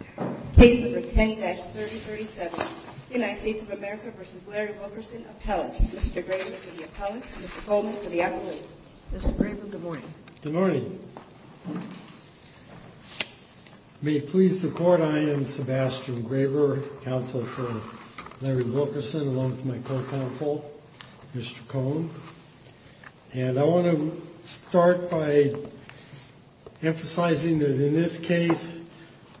Appellate. Mr. Graber to the Appellate. Mr. Cohn to the Appellate. Mr. Graber, good morning. Good morning. May it please the Court, I am Sebastian Graber, Counsel for Larry Wilkerson, along with my co-counsel, Mr. Cohn. And I want to start by emphasizing that in this case,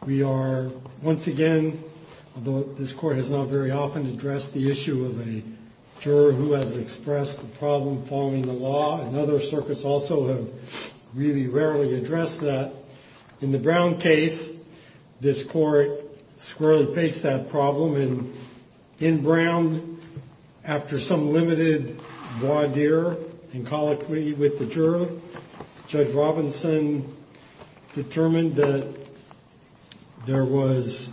we are, once again, although this Court has not very often addressed the issue of a juror who has expressed the problem following the law, and other circuits also have really rarely addressed that. In the Brown case, this Court squarely faced that problem. In Brown, after some limited voir dire and colloquy with the juror, Judge Robinson determined that there was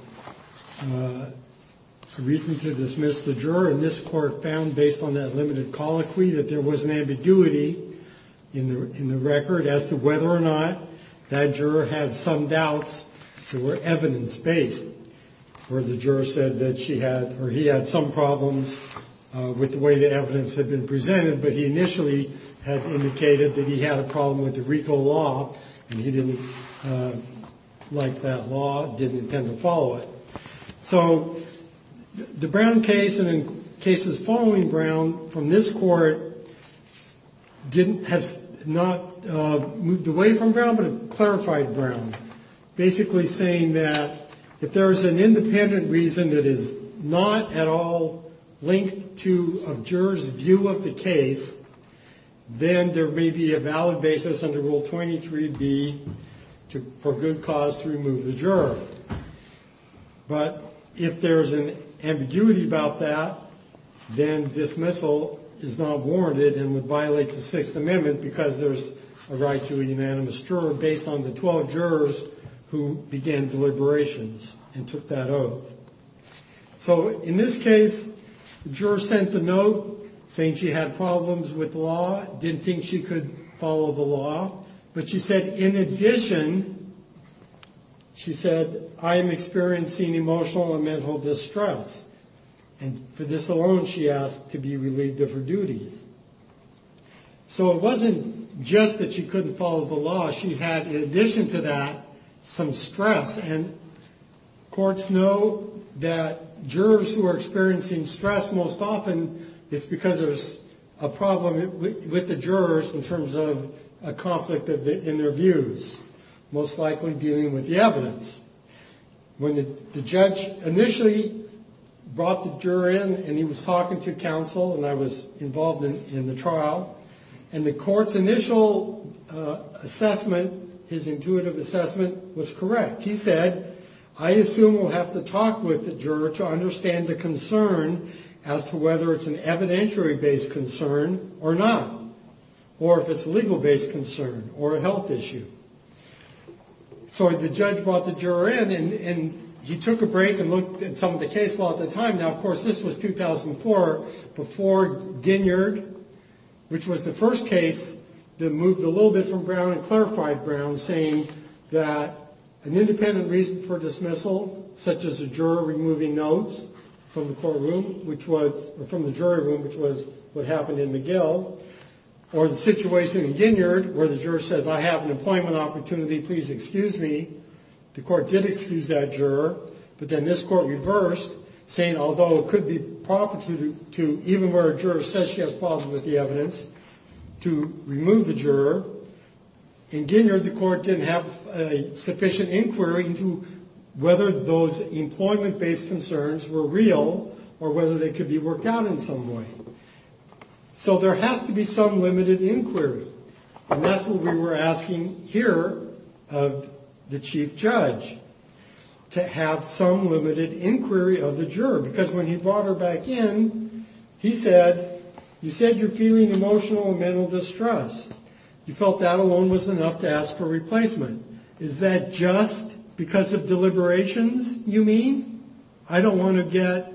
reason to dismiss the juror. And this Court found, based on that limited colloquy, that there was an ambiguity in the record as to whether or not that juror had some doubts that were evidence-based. Or the juror said that he had some problems with the way the evidence had been presented, but he initially had indicated that he had a problem with the RICO law, and he didn't like that law, didn't intend to follow it. So the Brown case, and in cases following Brown from this Court, has not moved away from Brown, but it clarified Brown. Basically saying that if there's an independent reason that is not at all linked to a juror's view of the case, then there may be a valid basis under Rule 23B for good cause to remove the juror. But if there's an ambiguity about that, then dismissal is not warranted and would violate the Sixth Amendment because there's a right to a unanimous juror based on the 12 jurors who began deliberations and took that oath. So in this case, the juror sent the note saying she had problems with the law, didn't think she could follow the law, but she said, in addition, she said, I am experiencing emotional and mental distress. And for this alone, she asked to be relieved of her duties. So it wasn't just that she couldn't follow the law. She had, in addition to that, some stress. And courts know that jurors who are experiencing stress most often, it's because there's a problem with the jurors in terms of a conflict in their views, most likely dealing with the evidence. When the judge initially brought the juror in and he was talking to counsel and I was involved in the trial and the court's initial assessment, his intuitive assessment, was correct. He said, I assume we'll have to talk with the juror to understand the concern as to whether it's an evidentiary based concern or not, or if it's a legal based concern or a health issue. So the judge brought the juror in and he took a break and looked at some of the case law at the time. Now, of course, this was 2004 before Ginyard, which was the first case that moved a little bit from Brown and clarified Brown, saying that an independent reason for dismissal, such as a juror removing notes from the courtroom, which was from the jury room, which was what happened in McGill, or the situation in Ginyard where the juror says, I have an employment opportunity, please excuse me. The court did excuse that juror. But then this court reversed, saying, although it could be proper to even where a juror says she has problems with the evidence to remove the juror. In Ginyard, the court didn't have sufficient inquiry into whether those employment based concerns were real or whether they could be worked out in some way. So there has to be some limited inquiry. And that's what we were asking here of the chief judge, to have some limited inquiry of the juror. Because when he brought her back in, he said, you said you're feeling emotional and mental distrust. You felt that alone was enough to ask for replacement. Is that just because of deliberations, you mean? I don't want to get,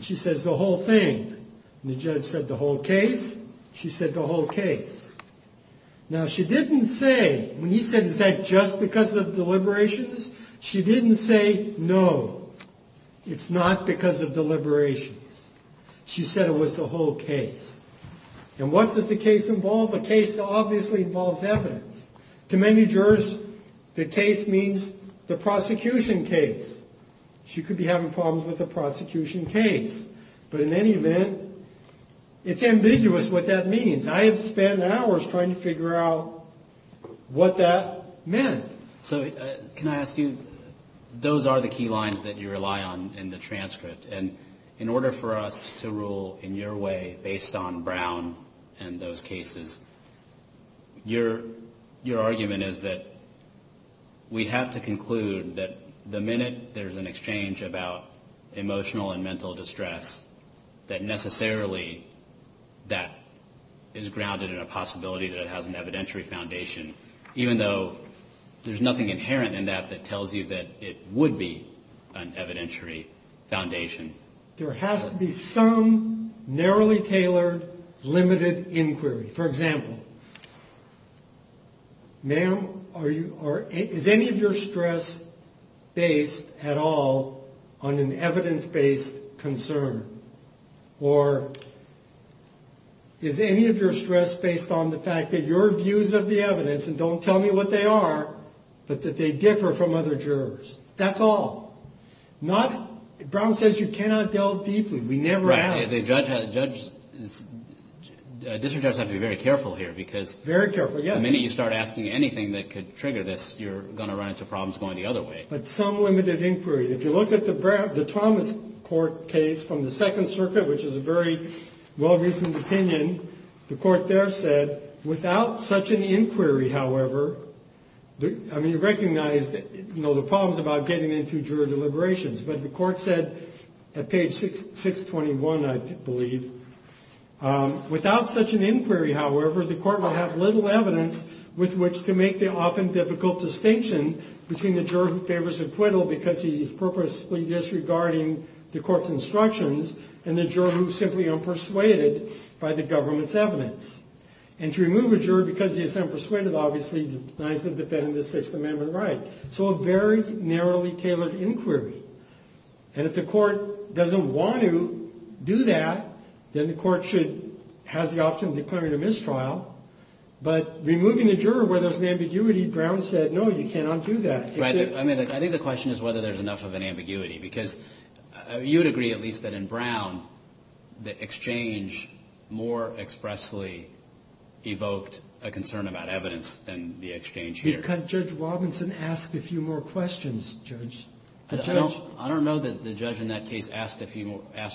she says, the whole thing. The judge said the whole case. She said the whole case. Now, she didn't say, when he said, is that just because of deliberations? She didn't say, no, it's not because of deliberations. She said it was the whole case. And what does the case involve? The case obviously involves evidence. To many jurors, the case means the prosecution case. She could be having problems with the prosecution case. But in any event, it's ambiguous what that means. I have spent hours trying to figure out what that meant. So can I ask you, those are the key lines that you rely on in the transcript. And in order for us to rule in your way, based on Brown and those cases, your argument is that we have to conclude that the minute there's an exchange about emotional and mental distress, that necessarily that is grounded in a possibility that it has an evidentiary foundation, even though there's nothing inherent in that that tells you that it would be an evidentiary foundation. There has to be some narrowly tailored, limited inquiry. For example, ma'am, is any of your stress based at all on an evidence-based concern? Or is any of your stress based on the fact that your views of the evidence, and don't tell me what they are, but that they differ from other jurors? That's all. Brown says you cannot delve deeply. We never ask. Judges, district judges have to be very careful here. Very careful, yes. The minute you start asking anything that could trigger this, you're going to run into problems going the other way. But some limited inquiry. If you look at the Thomas Court case from the Second Circuit, which is a very well-reasoned opinion, the court there said, without such an inquiry, however, I mean, you recognize the problems about getting into juror deliberations, but the court said, at page 621, I believe, without such an inquiry, however, the court will have little evidence with which to make the often difficult distinction between the juror who favors acquittal because he is purposefully disregarding the court's instructions, and the juror who is simply unpersuaded by the government's evidence. And to remove a juror because he is unpersuaded, obviously, denies the defendant a Sixth Amendment right. So a very narrowly tailored inquiry. And if the court doesn't want to do that, then the court has the option of declaring a mistrial. But removing a juror where there's an ambiguity, Brown said, no, you cannot do that. I think the question is whether there's enough of an ambiguity, because you would agree, at least, that in Brown, the exchange more expressly evoked a concern about evidence than the exchange here. Because Judge Robinson asked a few more questions, Judge. I don't know that the judge in that case asked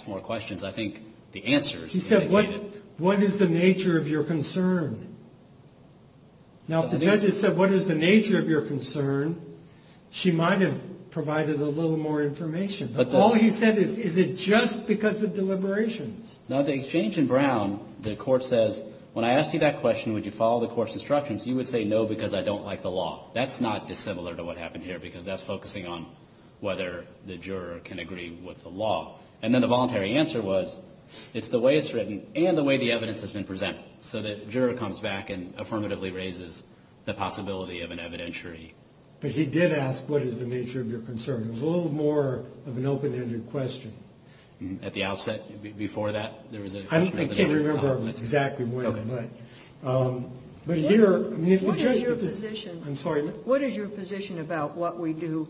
more questions. I think the answers indicated... He said, what is the nature of your concern? Now, if the judge had said, what is the nature of your concern, she might have provided a little more information. But all he said is, is it just because of deliberations? Now, the exchange in Brown, the court says, when I asked you that question, would you follow the court's instructions, you would say, no, because I don't like the law. That's not dissimilar to what happened here, because that's focusing on whether the juror can agree with the law. And then the voluntary answer was, it's the way it's written and the way the evidence has been presented, so that the juror comes back and affirmatively raises the possibility of an evidentiary. But he did ask, what is the nature of your concern? It was a little more of an open-ended question. At the outset, before that, there was a... I can't remember exactly when, but... Go ahead. But here... What is your position... I'm sorry, ma'am. What is your position about what we do,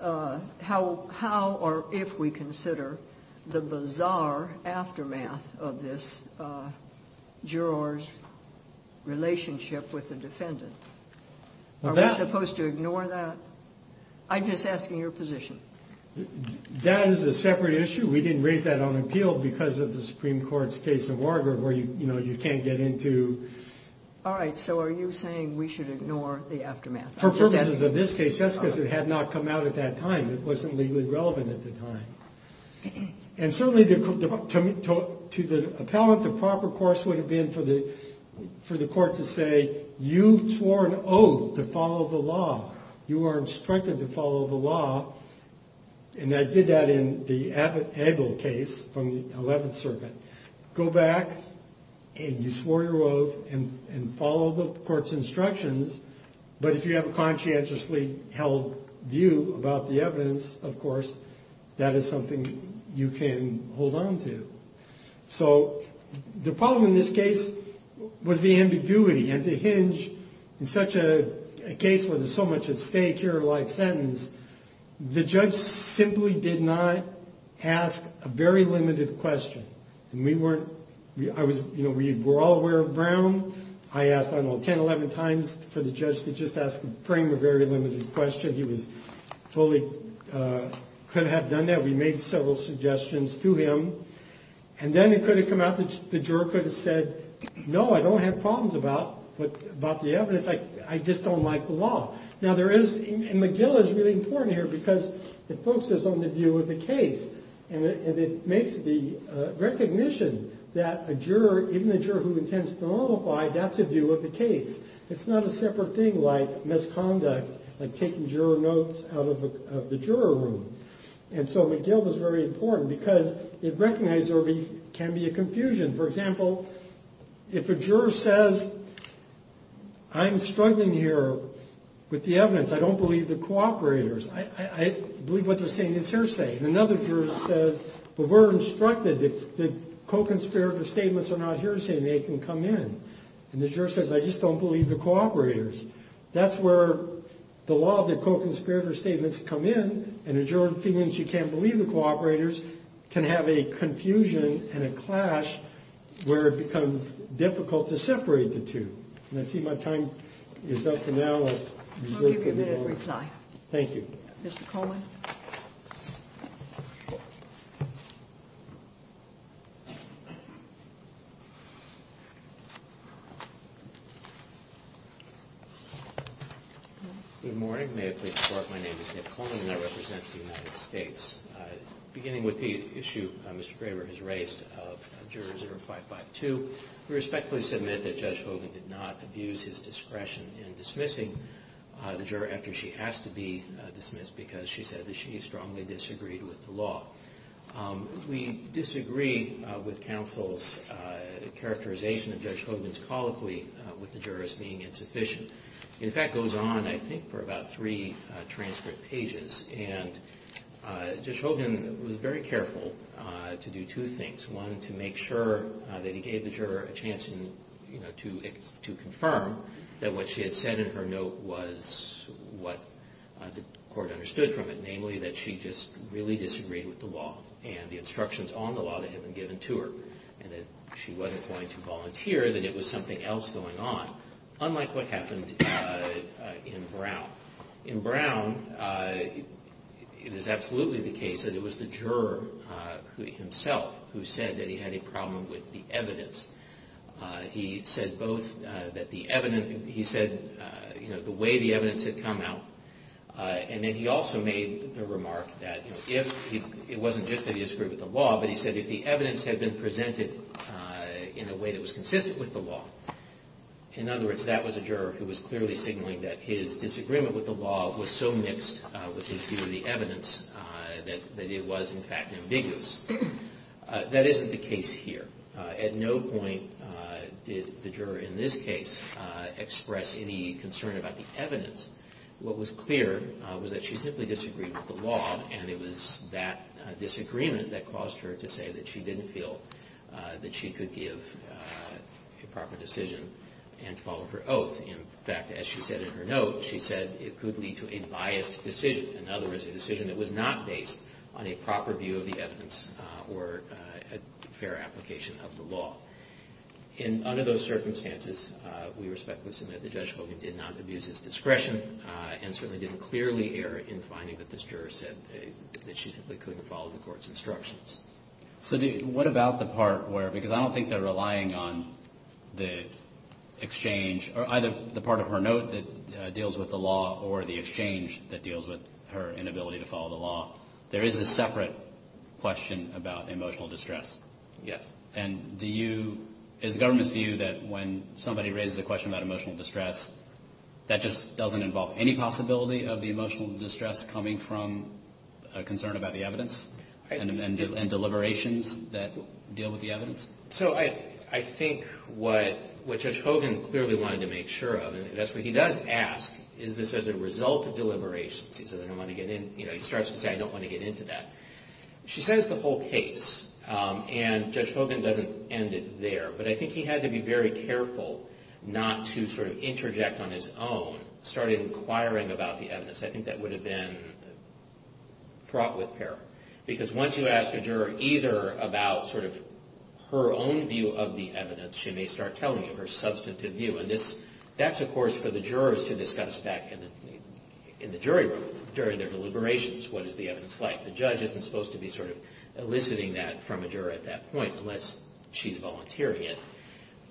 how or if we consider the bizarre aftermath of this juror's relationship with the defendant? Are we supposed to ignore that? I'm just asking your position. That is a separate issue. We didn't raise that on appeal because of the Supreme Court's case of Wargrave, where, you know, you can't get into... All right, so are you saying we should ignore the aftermath? For purposes of this case, that's because it had not come out at that time. It wasn't legally relevant at the time. And certainly, to the appellant, the proper course would have been for the court to say, you swore an oath to follow the law. You are instructed to follow the law. And I did that in the Abel case from the 11th Circuit. Go back, and you swore your oath, and follow the court's instructions. But if you have a conscientiously held view about the evidence, of course, that is something you can hold on to. So the problem in this case was the ambiguity. And to hinge in such a case where there's so much at stake here, like sentence, the judge simply did not ask a very limited question. And we weren't... You know, we were all aware of Brown. I asked, I don't know, 10, 11 times for the judge to just frame a very limited question. He was totally...could have done that. We made several suggestions to him. And then it could have come out that the juror could have said, no, I don't have problems about the evidence. I just don't like the law. Now there is...and McGill is really important here because it focuses on the view of the case. And it makes the recognition that a juror, even a juror who intends to nullify, that's a view of the case. It's not a separate thing like misconduct, like taking juror notes out of the juror room. And so McGill was very important because it recognized there can be a confusion. For example, if a juror says, I'm struggling here with the evidence. I don't believe the cooperators. I believe what they're saying is hearsay. And another juror says, but we're instructed that co-conspirator statements are not hearsay and they can come in. And the juror says, I just don't believe the cooperators. That's where the law of the co-conspirator statements come in. And a juror feeling she can't believe the cooperators can have a confusion and a clash where it becomes difficult to separate the two. And I see my time is up for now. I'll give you that reply. Thank you. Mr. Coleman. Good morning. May I please report my name is Nick Coleman and I represent the United States. Beginning with the issue Mr. Graber has raised of juror 0552, we respectfully submit that Judge Hogan did not abuse his discretion in dismissing the juror after she asked to be dismissed because she said that she strongly disagreed with the law. We disagree with counsel's characterization of Judge Hogan's colloquy with the jurors being insufficient. In fact, it goes on I think for about three transcript pages and Judge Hogan was very careful to do two things. One, to make sure that he gave the juror a chance to confirm that what she had said in her note was what the court understood from it, namely that she just really disagreed with the law and the instructions on the law that had been given to her and that she wasn't going to volunteer, that it was something else going on, unlike what happened in Brown. Now, in Brown it is absolutely the case that it was the juror himself who said that he had a problem with the evidence. He said both that the evidence, he said the way the evidence had come out and then he also made the remark that it wasn't just that he disagreed with the law, but he said if the evidence had been presented in a way that was consistent with the law, in other words, that was a juror who was clearly signaling that his disagreement with the law was so mixed with his view of the evidence that it was in fact ambiguous. That isn't the case here. At no point did the juror in this case express any concern about the evidence. What was clear was that she simply disagreed with the law and it was that disagreement that caused her to say that she didn't feel that she could give a proper decision and follow her oath. In fact, as she said in her note, she said it could lead to a biased decision, in other words, a decision that was not based on a proper view of the evidence or a fair application of the law. Under those circumstances, we respectfully submit that Judge Hogan did not abuse his discretion and certainly didn't clearly err in finding that this juror said that she simply couldn't follow the court's instructions. So what about the part where, because I don't think they're relying on the exchange or either the part of her note that deals with the law or the exchange that deals with her inability to follow the law, there is a separate question about emotional distress. Yes. And do you, is the government's view that when somebody raises a question about emotional distress, that just doesn't involve any possibility of the emotional distress coming from a concern about the evidence and deliberations that deal with the evidence? So I think what Judge Hogan clearly wanted to make sure of, and that's what he does ask, is this as a result of deliberations? He starts to say, I don't want to get into that. She says the whole case, and Judge Hogan doesn't end it there, but I think he had to be very careful not to sort of interject on his own, start inquiring about the evidence. I think that would have been fraught with peril. Because once you ask a juror either about sort of her own view of the evidence, she may start telling you her substantive view. And that's, of course, for the jurors to discuss back in the jury room during their deliberations, what is the evidence like. The judge isn't supposed to be sort of eliciting that from a juror at that point unless she's volunteering it.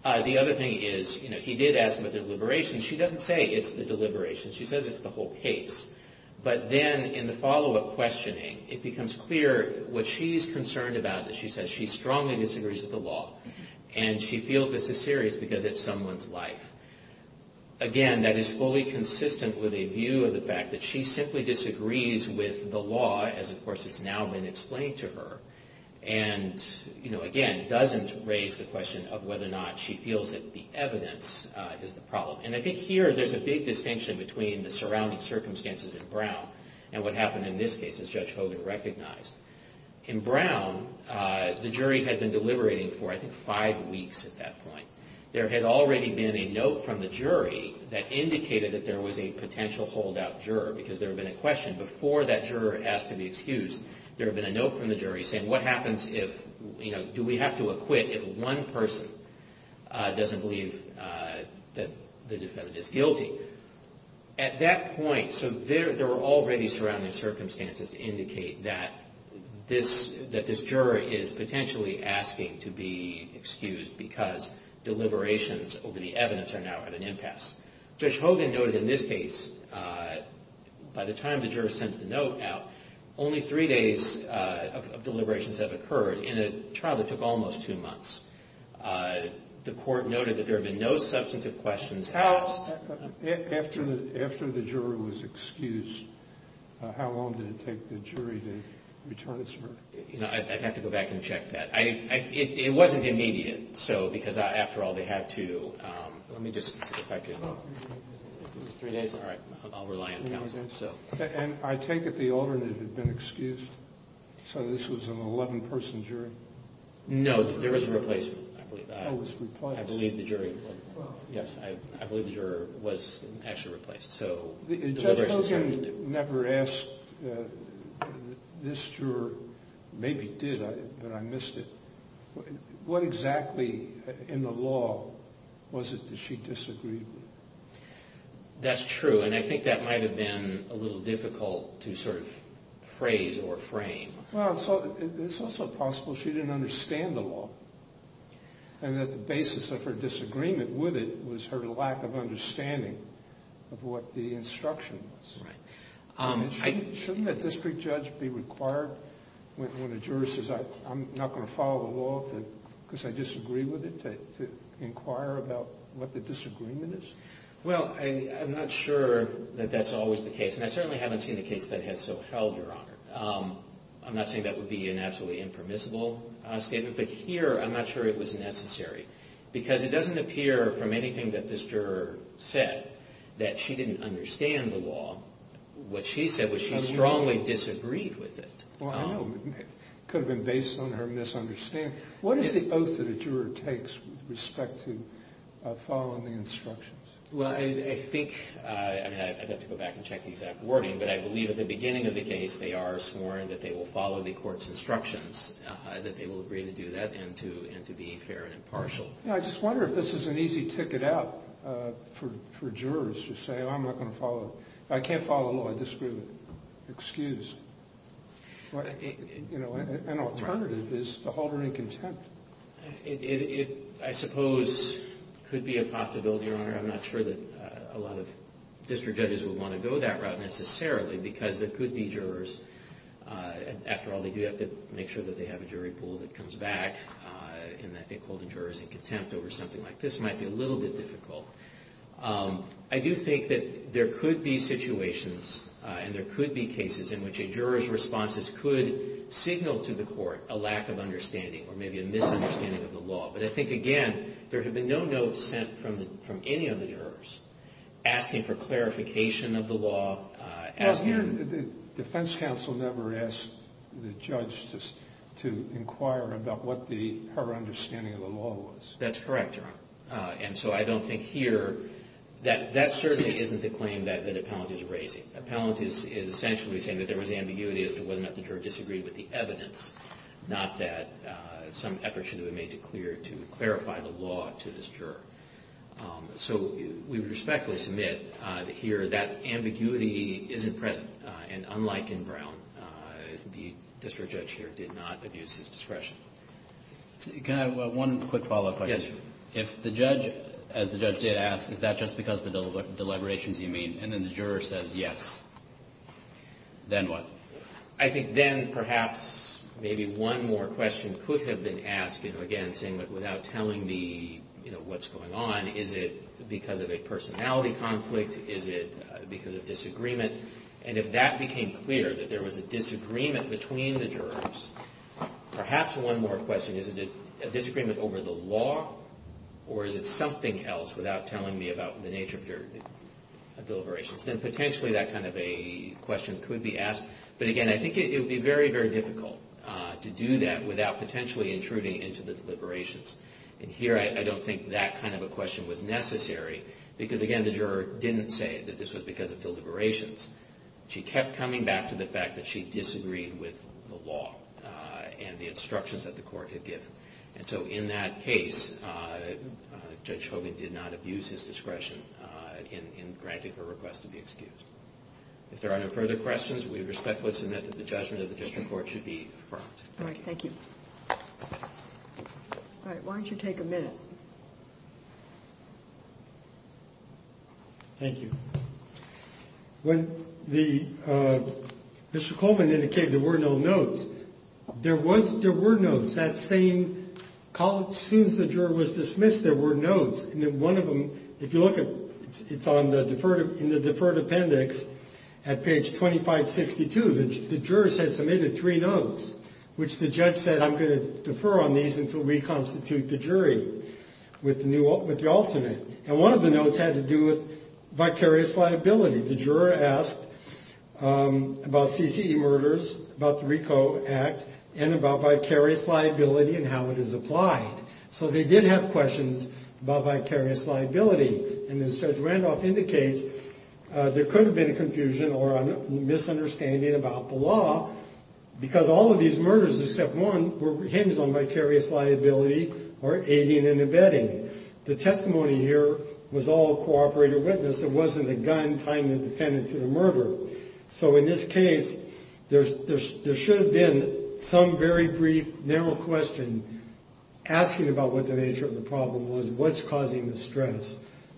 The other thing is, you know, he did ask about deliberations. She doesn't say it's the deliberations. She says it's the whole case. But then in the follow-up questioning, it becomes clear what she's concerned about that she says she strongly disagrees with the law, and she feels this is serious because it's someone's life. Again, that is fully consistent with a view of the fact that she simply disagrees with the law, as, of course, it's now been explained to her. And, you know, again, doesn't raise the question of whether or not she feels that the evidence is the problem. And I think here there's a big distinction between the surrounding circumstances in Brown and what happened in this case, as Judge Hogan recognized. In Brown, the jury had been deliberating for, I think, five weeks at that point. There had already been a note from the jury that indicated that there was a potential holdout juror because there had been a question before that juror asked for the excuse. There had been a note from the jury saying what happens if, you know, do we have to acquit if one person doesn't believe that the defendant is guilty. At that point, so there were already surrounding circumstances to indicate that this jury is potentially asking to be excused because deliberations over the evidence are now at an impasse. Judge Hogan noted in this case, by the time the juror sends the note out, only three days of deliberations have occurred in a trial that took almost two months. The court noted that there had been no substantive questions asked. After the juror was excused, how long did it take the jury to return its verdict? You know, I'd have to go back and check that. It wasn't immediate because, after all, they had to. Let me just check. Three days, all right. I'll rely on counsel. And I take it the alternate had been excused, so this was an 11-person jury? No, there was a replacement. Oh, it was replaced. I believe the jury was actually replaced. Judge Hogan never asked this juror, maybe did, but I missed it. What exactly in the law was it that she disagreed with? That's true, and I think that might have been a little difficult to sort of phrase or frame. Well, it's also possible she didn't understand the law and that the basis of her disagreement with it was her lack of understanding of what the instruction was. Shouldn't a district judge be required when a juror says, I'm not going to follow the law because I disagree with it, to inquire about what the disagreement is? Well, I'm not sure that that's always the case, and I certainly haven't seen a case that has so held, Your Honor. I'm not saying that would be an absolutely impermissible statement, but here I'm not sure it was necessary because it doesn't appear from anything that this juror said that she didn't understand the law. What she said was she strongly disagreed with it. Well, I know. It could have been based on her misunderstanding. What is the oath that a juror takes with respect to following the instructions? Well, I think I'd have to go back and check the exact wording, but I believe at the beginning of the case they are sworn that they will follow the court's instructions, that they will agree to do that and to be fair and impartial. I just wonder if this is an easy ticket out for jurors to say, oh, I'm not going to follow. I can't follow the law. I disprove it. Excuse. An alternative is to hold her in contempt. I suppose it could be a possibility, Your Honor. I'm not sure that a lot of district judges would want to go that route necessarily because there could be jurors. After all, they do have to make sure that they have a jury pool that comes back, and I think holding jurors in contempt over something like this might be a little bit difficult. I do think that there could be situations and there could be cases in which a juror's responses could signal to the court a lack of understanding or maybe a misunderstanding of the law. But I think, again, there have been no notes sent from any of the jurors asking for clarification of the law. The defense counsel never asked the judge to inquire about what her understanding of the law was. That's correct, Your Honor. And so I don't think here that that certainly isn't the claim that Appellant is raising. Appellant is essentially saying that there was ambiguity as to whether or not the juror disagreed with the evidence, not that some effort should have been made to clarify the law to this juror. So we respectfully submit here that ambiguity isn't present, and unlike in Brown, the district judge here did not abuse his discretion. Can I have one quick follow-up question? If the judge, as the judge did ask, is that just because of the deliberations you made, and then the juror says yes, then what? I think then perhaps maybe one more question could have been asked, again, saying, but without telling me what's going on, is it because of a personality conflict? Is it because of disagreement? And if that became clear, that there was a disagreement between the jurors, perhaps one more question, is it a disagreement over the law, or is it something else without telling me about the nature of your deliberations? Then potentially that kind of a question could be asked. But again, I think it would be very, very difficult to do that without potentially intruding into the deliberations. And here I don't think that kind of a question was necessary because, again, the juror didn't say that this was because of deliberations. She kept coming back to the fact that she disagreed with the law and the instructions that the court had given. And so in that case, Judge Hogan did not abuse his discretion in granting her request to be excused. If there are no further questions, we would respectfully submit that the judgment of the district court should be affirmed. All right, thank you. All right, why don't you take a minute? Thank you. When Mr. Coleman indicated there were no notes, there were notes. That same college, since the juror was dismissed, there were notes. And one of them, if you look at it, it's in the deferred appendix at page 2562. The jurors had submitted three notes, which the judge said, I'm going to defer on these until we constitute the jury with the alternate. And one of the notes had to do with vicarious liability. The juror asked about CCE murders, about the RICO Act, and about vicarious liability and how it is applied. So they did have questions about vicarious liability. And as Judge Randolph indicates, there could have been a confusion or a misunderstanding about the law, because all of these murders except one were hinged on vicarious liability or aiding and abetting. The testimony here was all a cooperator witness. It wasn't a gun tying the defendant to the murder. So in this case, there should have been some very brief, narrow question asking about what the nature of the problem was, what's causing the stress,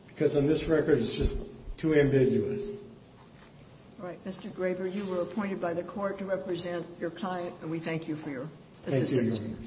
because on this record, it's just too ambiguous. All right. Mr. Graeber, you were appointed by the court to represent your client, and we thank you for your assistance. Thank you, Your Honor.